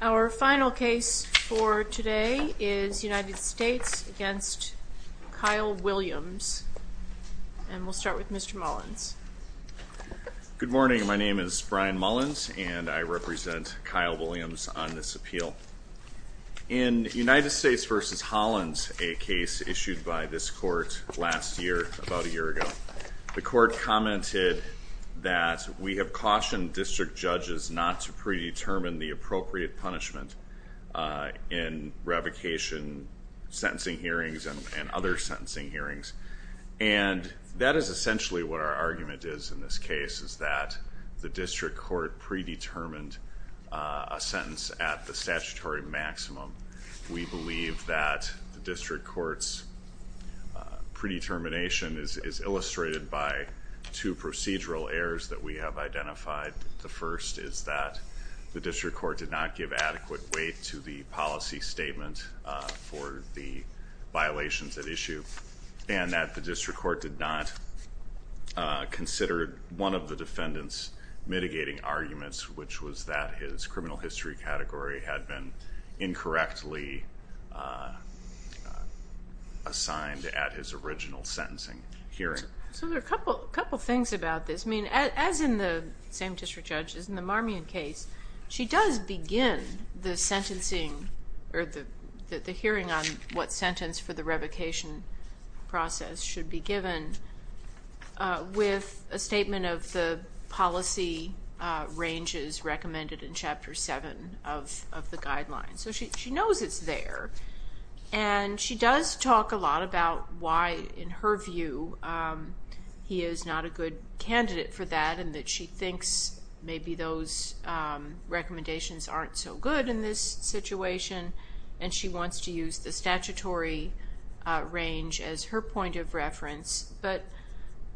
Our final case for today is United States v. Kyle Williams. And we'll start with Mr. Mullins. Good morning, my name is Brian Mullins and I represent Kyle Williams on this appeal. In United States v. Holland, a case issued by this court last year, about a year ago, the court commented that we have cautioned district judges not to predetermine the appropriate punishment in revocation sentencing hearings and other sentencing hearings. And that is essentially what our argument is in this case, is that the district court predetermined a sentence at the statutory maximum. We believe that the district court's predetermination is illustrated by two procedural errors that we have identified. The first is that the district court did not give adequate weight to the policy statement for the violations at issue. And that the district court did not consider one of the defendant's mitigating arguments, which was that his criminal history category had been incorrectly assigned at his original sentencing hearing. So there are a couple things about this. I mean, as in the same district judge, as in the Marmion case, she does begin the sentencing or the hearing on what sentence for the revocation process should be given with a statement of the policy ranges recommended in Chapter 7 of the guidelines. So she knows it's there. And she does talk a lot about why, in her view, he is not a good candidate for that and that she thinks maybe those recommendations aren't so good in this situation. And she wants to use the statutory range as her point of reference. But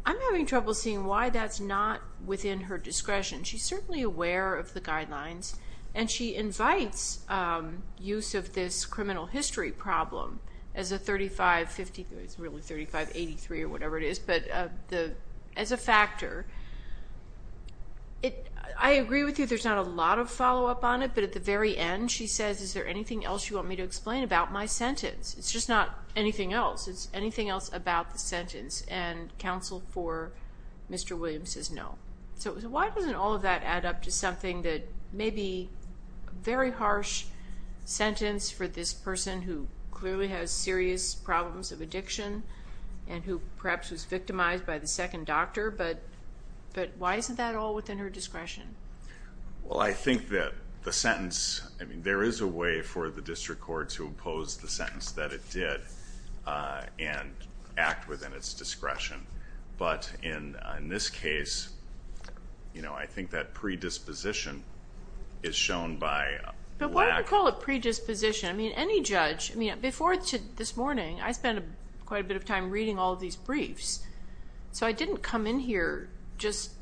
I'm having trouble seeing why that's not within her discretion. She's certainly aware of the guidelines, and she invites use of this criminal history problem as a factor. I agree with you, there's not a lot of follow-up on it, but at the very end she says, is there anything else you want me to explain about my sentence? It's just not anything else. It's anything else about the sentence. And counsel for Mr. Williams says no. So why doesn't all of that add up to something that may be a very harsh sentence for this person who clearly has serious problems of addiction and who perhaps was victimized by the second doctor, but why isn't that all within her discretion? Well, I think that the sentence, I mean, there is a way for the district court to oppose the sentence that it did and act within its discretion. But in this case, you know, I think that predisposition is shown by... But why do you call it predisposition? I mean, any judge, I mean, before this morning, I spent quite a bit of time reading all of these briefs, so I didn't come in here just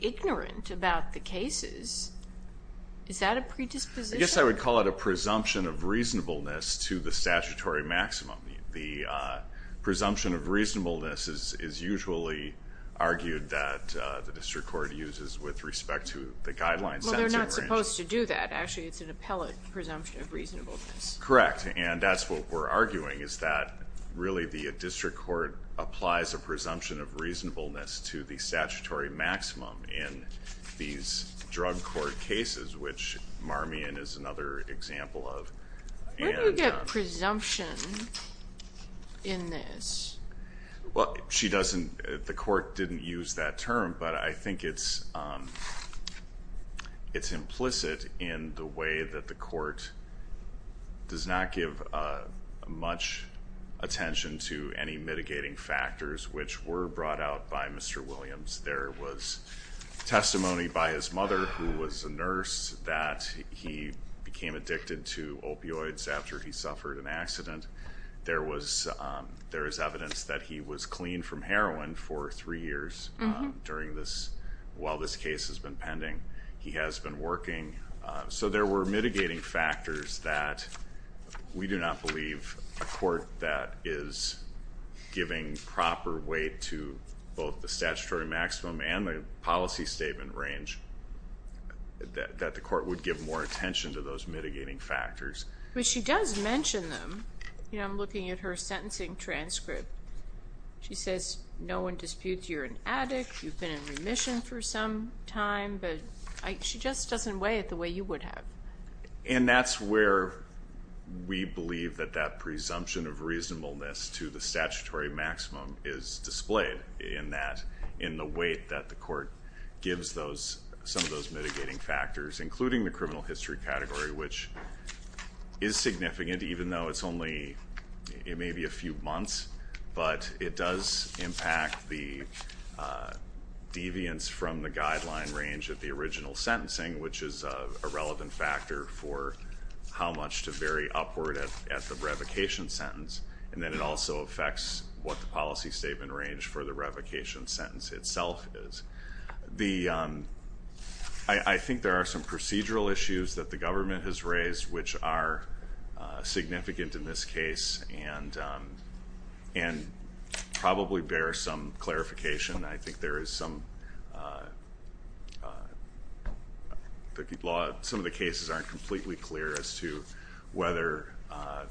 ignorant about the cases. Is that a predisposition? I guess I would call it a presumption of reasonableness to the statutory maximum. The presumption of reasonableness is usually argued that the district court uses with respect to the guidelines. Well, they're not supposed to do that. Actually, it's an appellate presumption of reasonableness. Correct. And that's what we're arguing is that really the district court applies a presumption of reasonableness to the statutory maximum in these drug court cases, which Marmion is another example of. Where do you get presumption in this? Well, she doesn't... The court didn't use that term, but I think it's implicit in the way that the court does not give much attention to any mitigating factors, which were brought out by Mr. Williams. There was testimony by his mother, who was a nurse, that he became addicted to opioids after he suffered an accident. There is evidence that he was cleaned from heroin for three years while this case has been pending. He has been working. So there were mitigating factors that we do not believe a court that is giving proper weight to both the statutory maximum and the policy statement range, that the court would give more attention to those mitigating factors. But she does mention them. You know, I'm looking at her sentencing transcript. She says, no one disputes you're an addict, you've been in remission for some time, but she just doesn't weigh it the way you would have. And that's where we believe that that presumption of reasonableness to the statutory maximum is displayed in the weight that the court gives some of those mitigating factors, including the criminal history category, which is significant, even though it's only maybe a few months. But it does impact the deviance from the guideline range of the original sentencing, which is a relevant factor for how much to vary upward at the revocation sentence. And then it also affects what the policy statement range for the revocation sentence itself is. I think there are some procedural issues that the government has raised which are significant in this case and probably bear some clarification. I think there is some, some of the cases aren't completely clear as to whether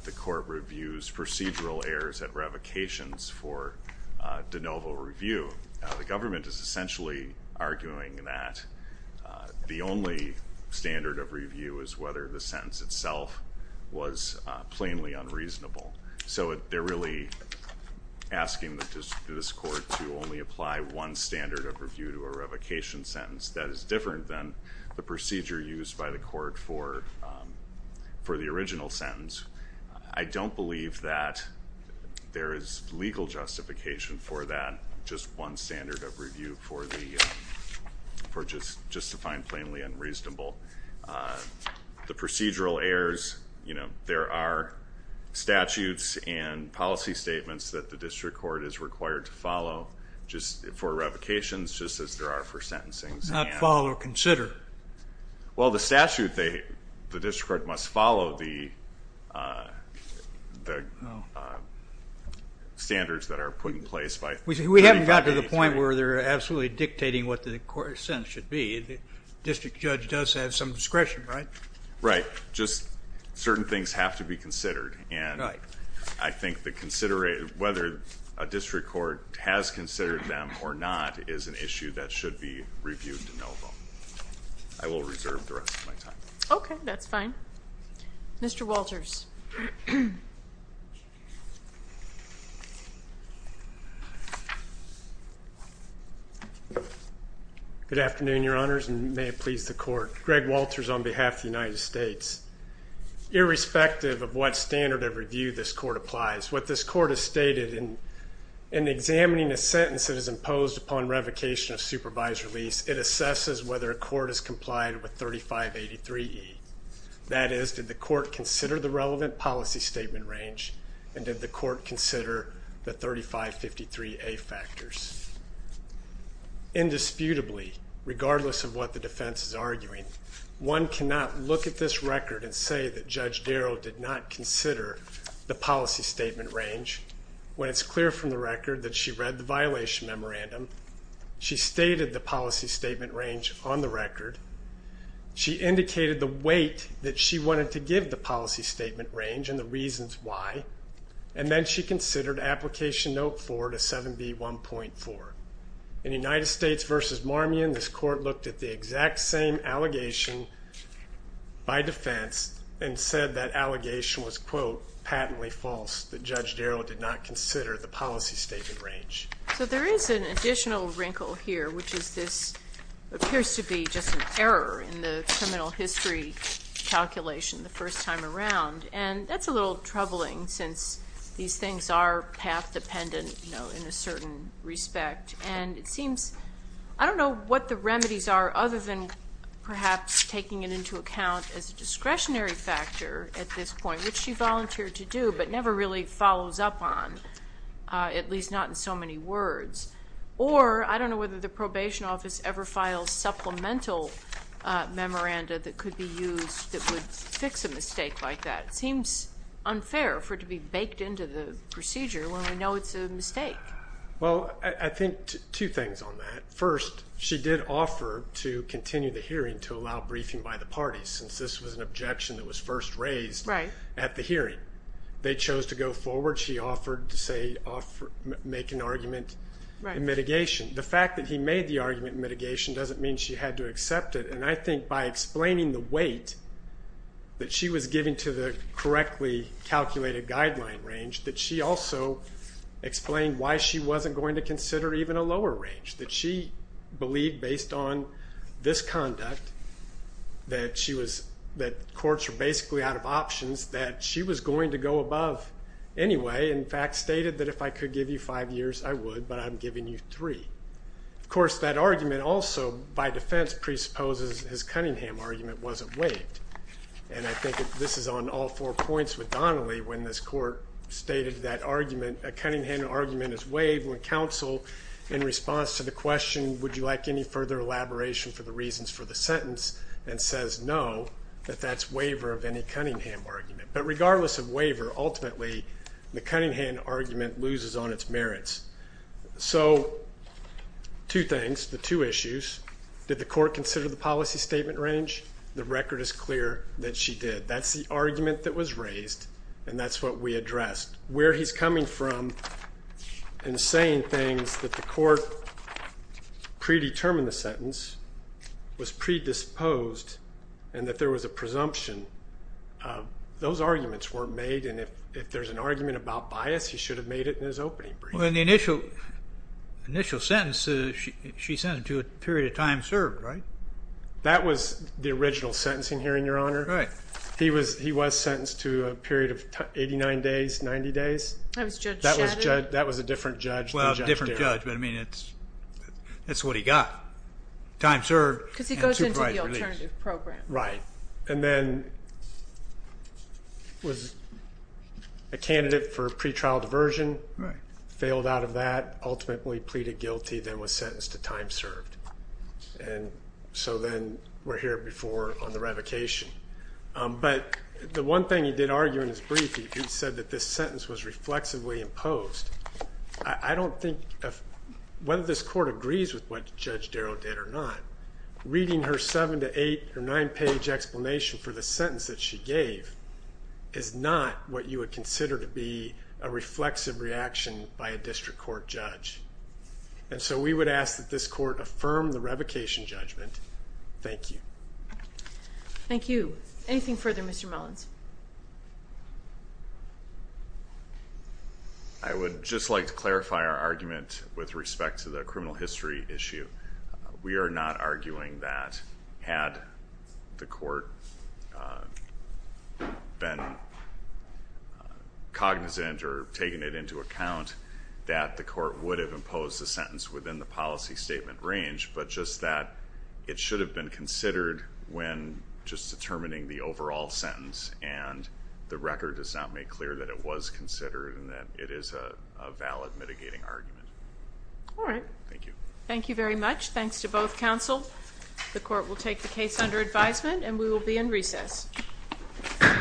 the court reviews procedural errors at revocations for de novo review. The government is essentially arguing that the only standard of review is whether the sentence itself was plainly unreasonable. So they're really asking this court to only apply one standard of review to a revocation sentence. That is different than the procedure used by the court for the original sentence. I don't believe that there is legal justification for that, just one standard of review for justifying plainly unreasonable. The procedural errors, you know, there are statutes and policy statements that the district court is required to follow just for revocations, just as there are for sentencing. Not follow or consider. Well, the statute, the district court must follow the standards that are put in place. We haven't gotten to the point where they're absolutely dictating what the court sentence should be. The district judge does have some discretion, right? Right, just certain things have to be considered and I think that whether a district court has considered them or not is an issue that should be reviewed de novo. I will reserve the rest of my time. Okay, that's fine. Mr. Walters. Good afternoon, Your Honors, and may it please the court. Greg Walters on behalf of the United States. Irrespective of what standard of review this court applies, what this court has stated in examining a sentence that is imposed upon revocation of supervisory lease, it assesses whether a court has complied with 3583E. That is, did the court consider the relevant policy statement range and did the court consider the 3553A factors? Indisputably, regardless of what the defense is arguing, one cannot look at this record and say that Judge Darrow did not consider the policy statement range when it's clear from the record that she read the violation memorandum, she stated the policy statement range on the record, she indicated the weight that she wanted to give the policy statement range and the reasons why, and then she considered Application Note 4 to 7B1.4. In United States v. Marmion, this court looked at the exact same allegation by defense and said that allegation was, quote, patently false, that Judge Darrow did not consider the policy statement range. So there is an additional wrinkle here, which is this appears to be just an error in the criminal history calculation the first time around, and that's a little troubling since these things are path dependent, you know, in a certain respect. And it seems, I don't know what the remedies are other than perhaps taking it into account as a discretionary factor at this point, which she volunteered to do but never really follows up on, at least not in so many words. Or I don't know whether the probation office ever files supplemental memoranda that could be used that would fix a mistake like that. It seems unfair for it to be baked into the procedure when we know it's a mistake. Well, I think two things on that. First, she did offer to continue the hearing to allow briefing by the parties since this was an objection that was first raised at the hearing. They chose to go forward. She offered to make an argument in mitigation. The fact that he made the argument in mitigation doesn't mean she had to accept it. And I think by explaining the weight that she was giving to the correctly calculated guideline range, that she also explained why she wasn't going to consider even a lower range. That she believed based on this conduct that courts are basically out of options, that she was going to go above anyway. In fact, stated that if I could give you five years, I would, but I'm giving you three. Of course, that argument also by defense presupposes his Cunningham argument wasn't waived. And I think this is on all four points with Donnelly when this court stated that argument, a Cunningham argument is waived when counsel in response to the question, would you like any further elaboration for the reasons for the sentence, and says no, that that's waiver of any Cunningham argument. But regardless of waiver, ultimately, the Cunningham argument loses on its merits. So two things, the two issues. Did the court consider the policy statement range? The record is clear that she did. That's the argument that was raised, and that's what we addressed. Where he's coming from and saying things that the court predetermined the sentence was predisposed and that there was a presumption, those arguments weren't made. And if there's an argument about bias, he should have made it in his opening brief. Well, in the initial sentence, she sent him to a period of time served, right? That was the original sentencing hearing, Your Honor. Right. He was sentenced to a period of 89 days, 90 days. That was Judge Shadid? That was a different judge than Judge Darryl. Well, a different judge, but I mean, that's what he got. Time served and two prior release. Because he goes into the alternative program. Right. And then was a candidate for pretrial diversion. Right. Failed out of that, ultimately pleaded guilty, then was sentenced to time served. And so then we're here before on the revocation. But the one thing he did argue in his brief, he said that this sentence was reflexively imposed. I don't think whether this court agrees with what Judge Darryl did or not, reading her seven to eight or nine-page explanation for the sentence that she gave is not what you would consider to be a reflexive reaction by a district court judge. And so we would ask that this court affirm the revocation judgment. Thank you. Thank you. Anything further, Mr. Mullins? I would just like to clarify our argument with respect to the criminal history issue. We are not arguing that had the court been cognizant or taken it into account, that the court would have imposed the sentence within the policy statement range, but just that it should have been considered when just determining the overall sentence and the record does not make clear that it was considered and that it is a valid mitigating argument. All right. Thank you. Thank you very much. Thanks to both counsel. The court will take the case under advisement, and we will be in recess. Thank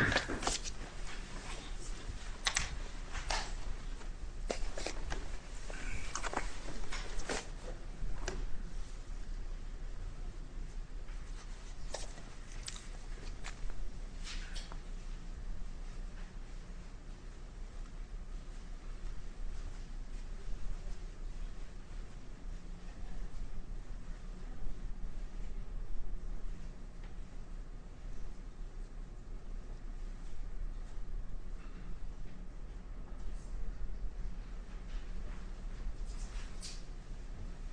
you.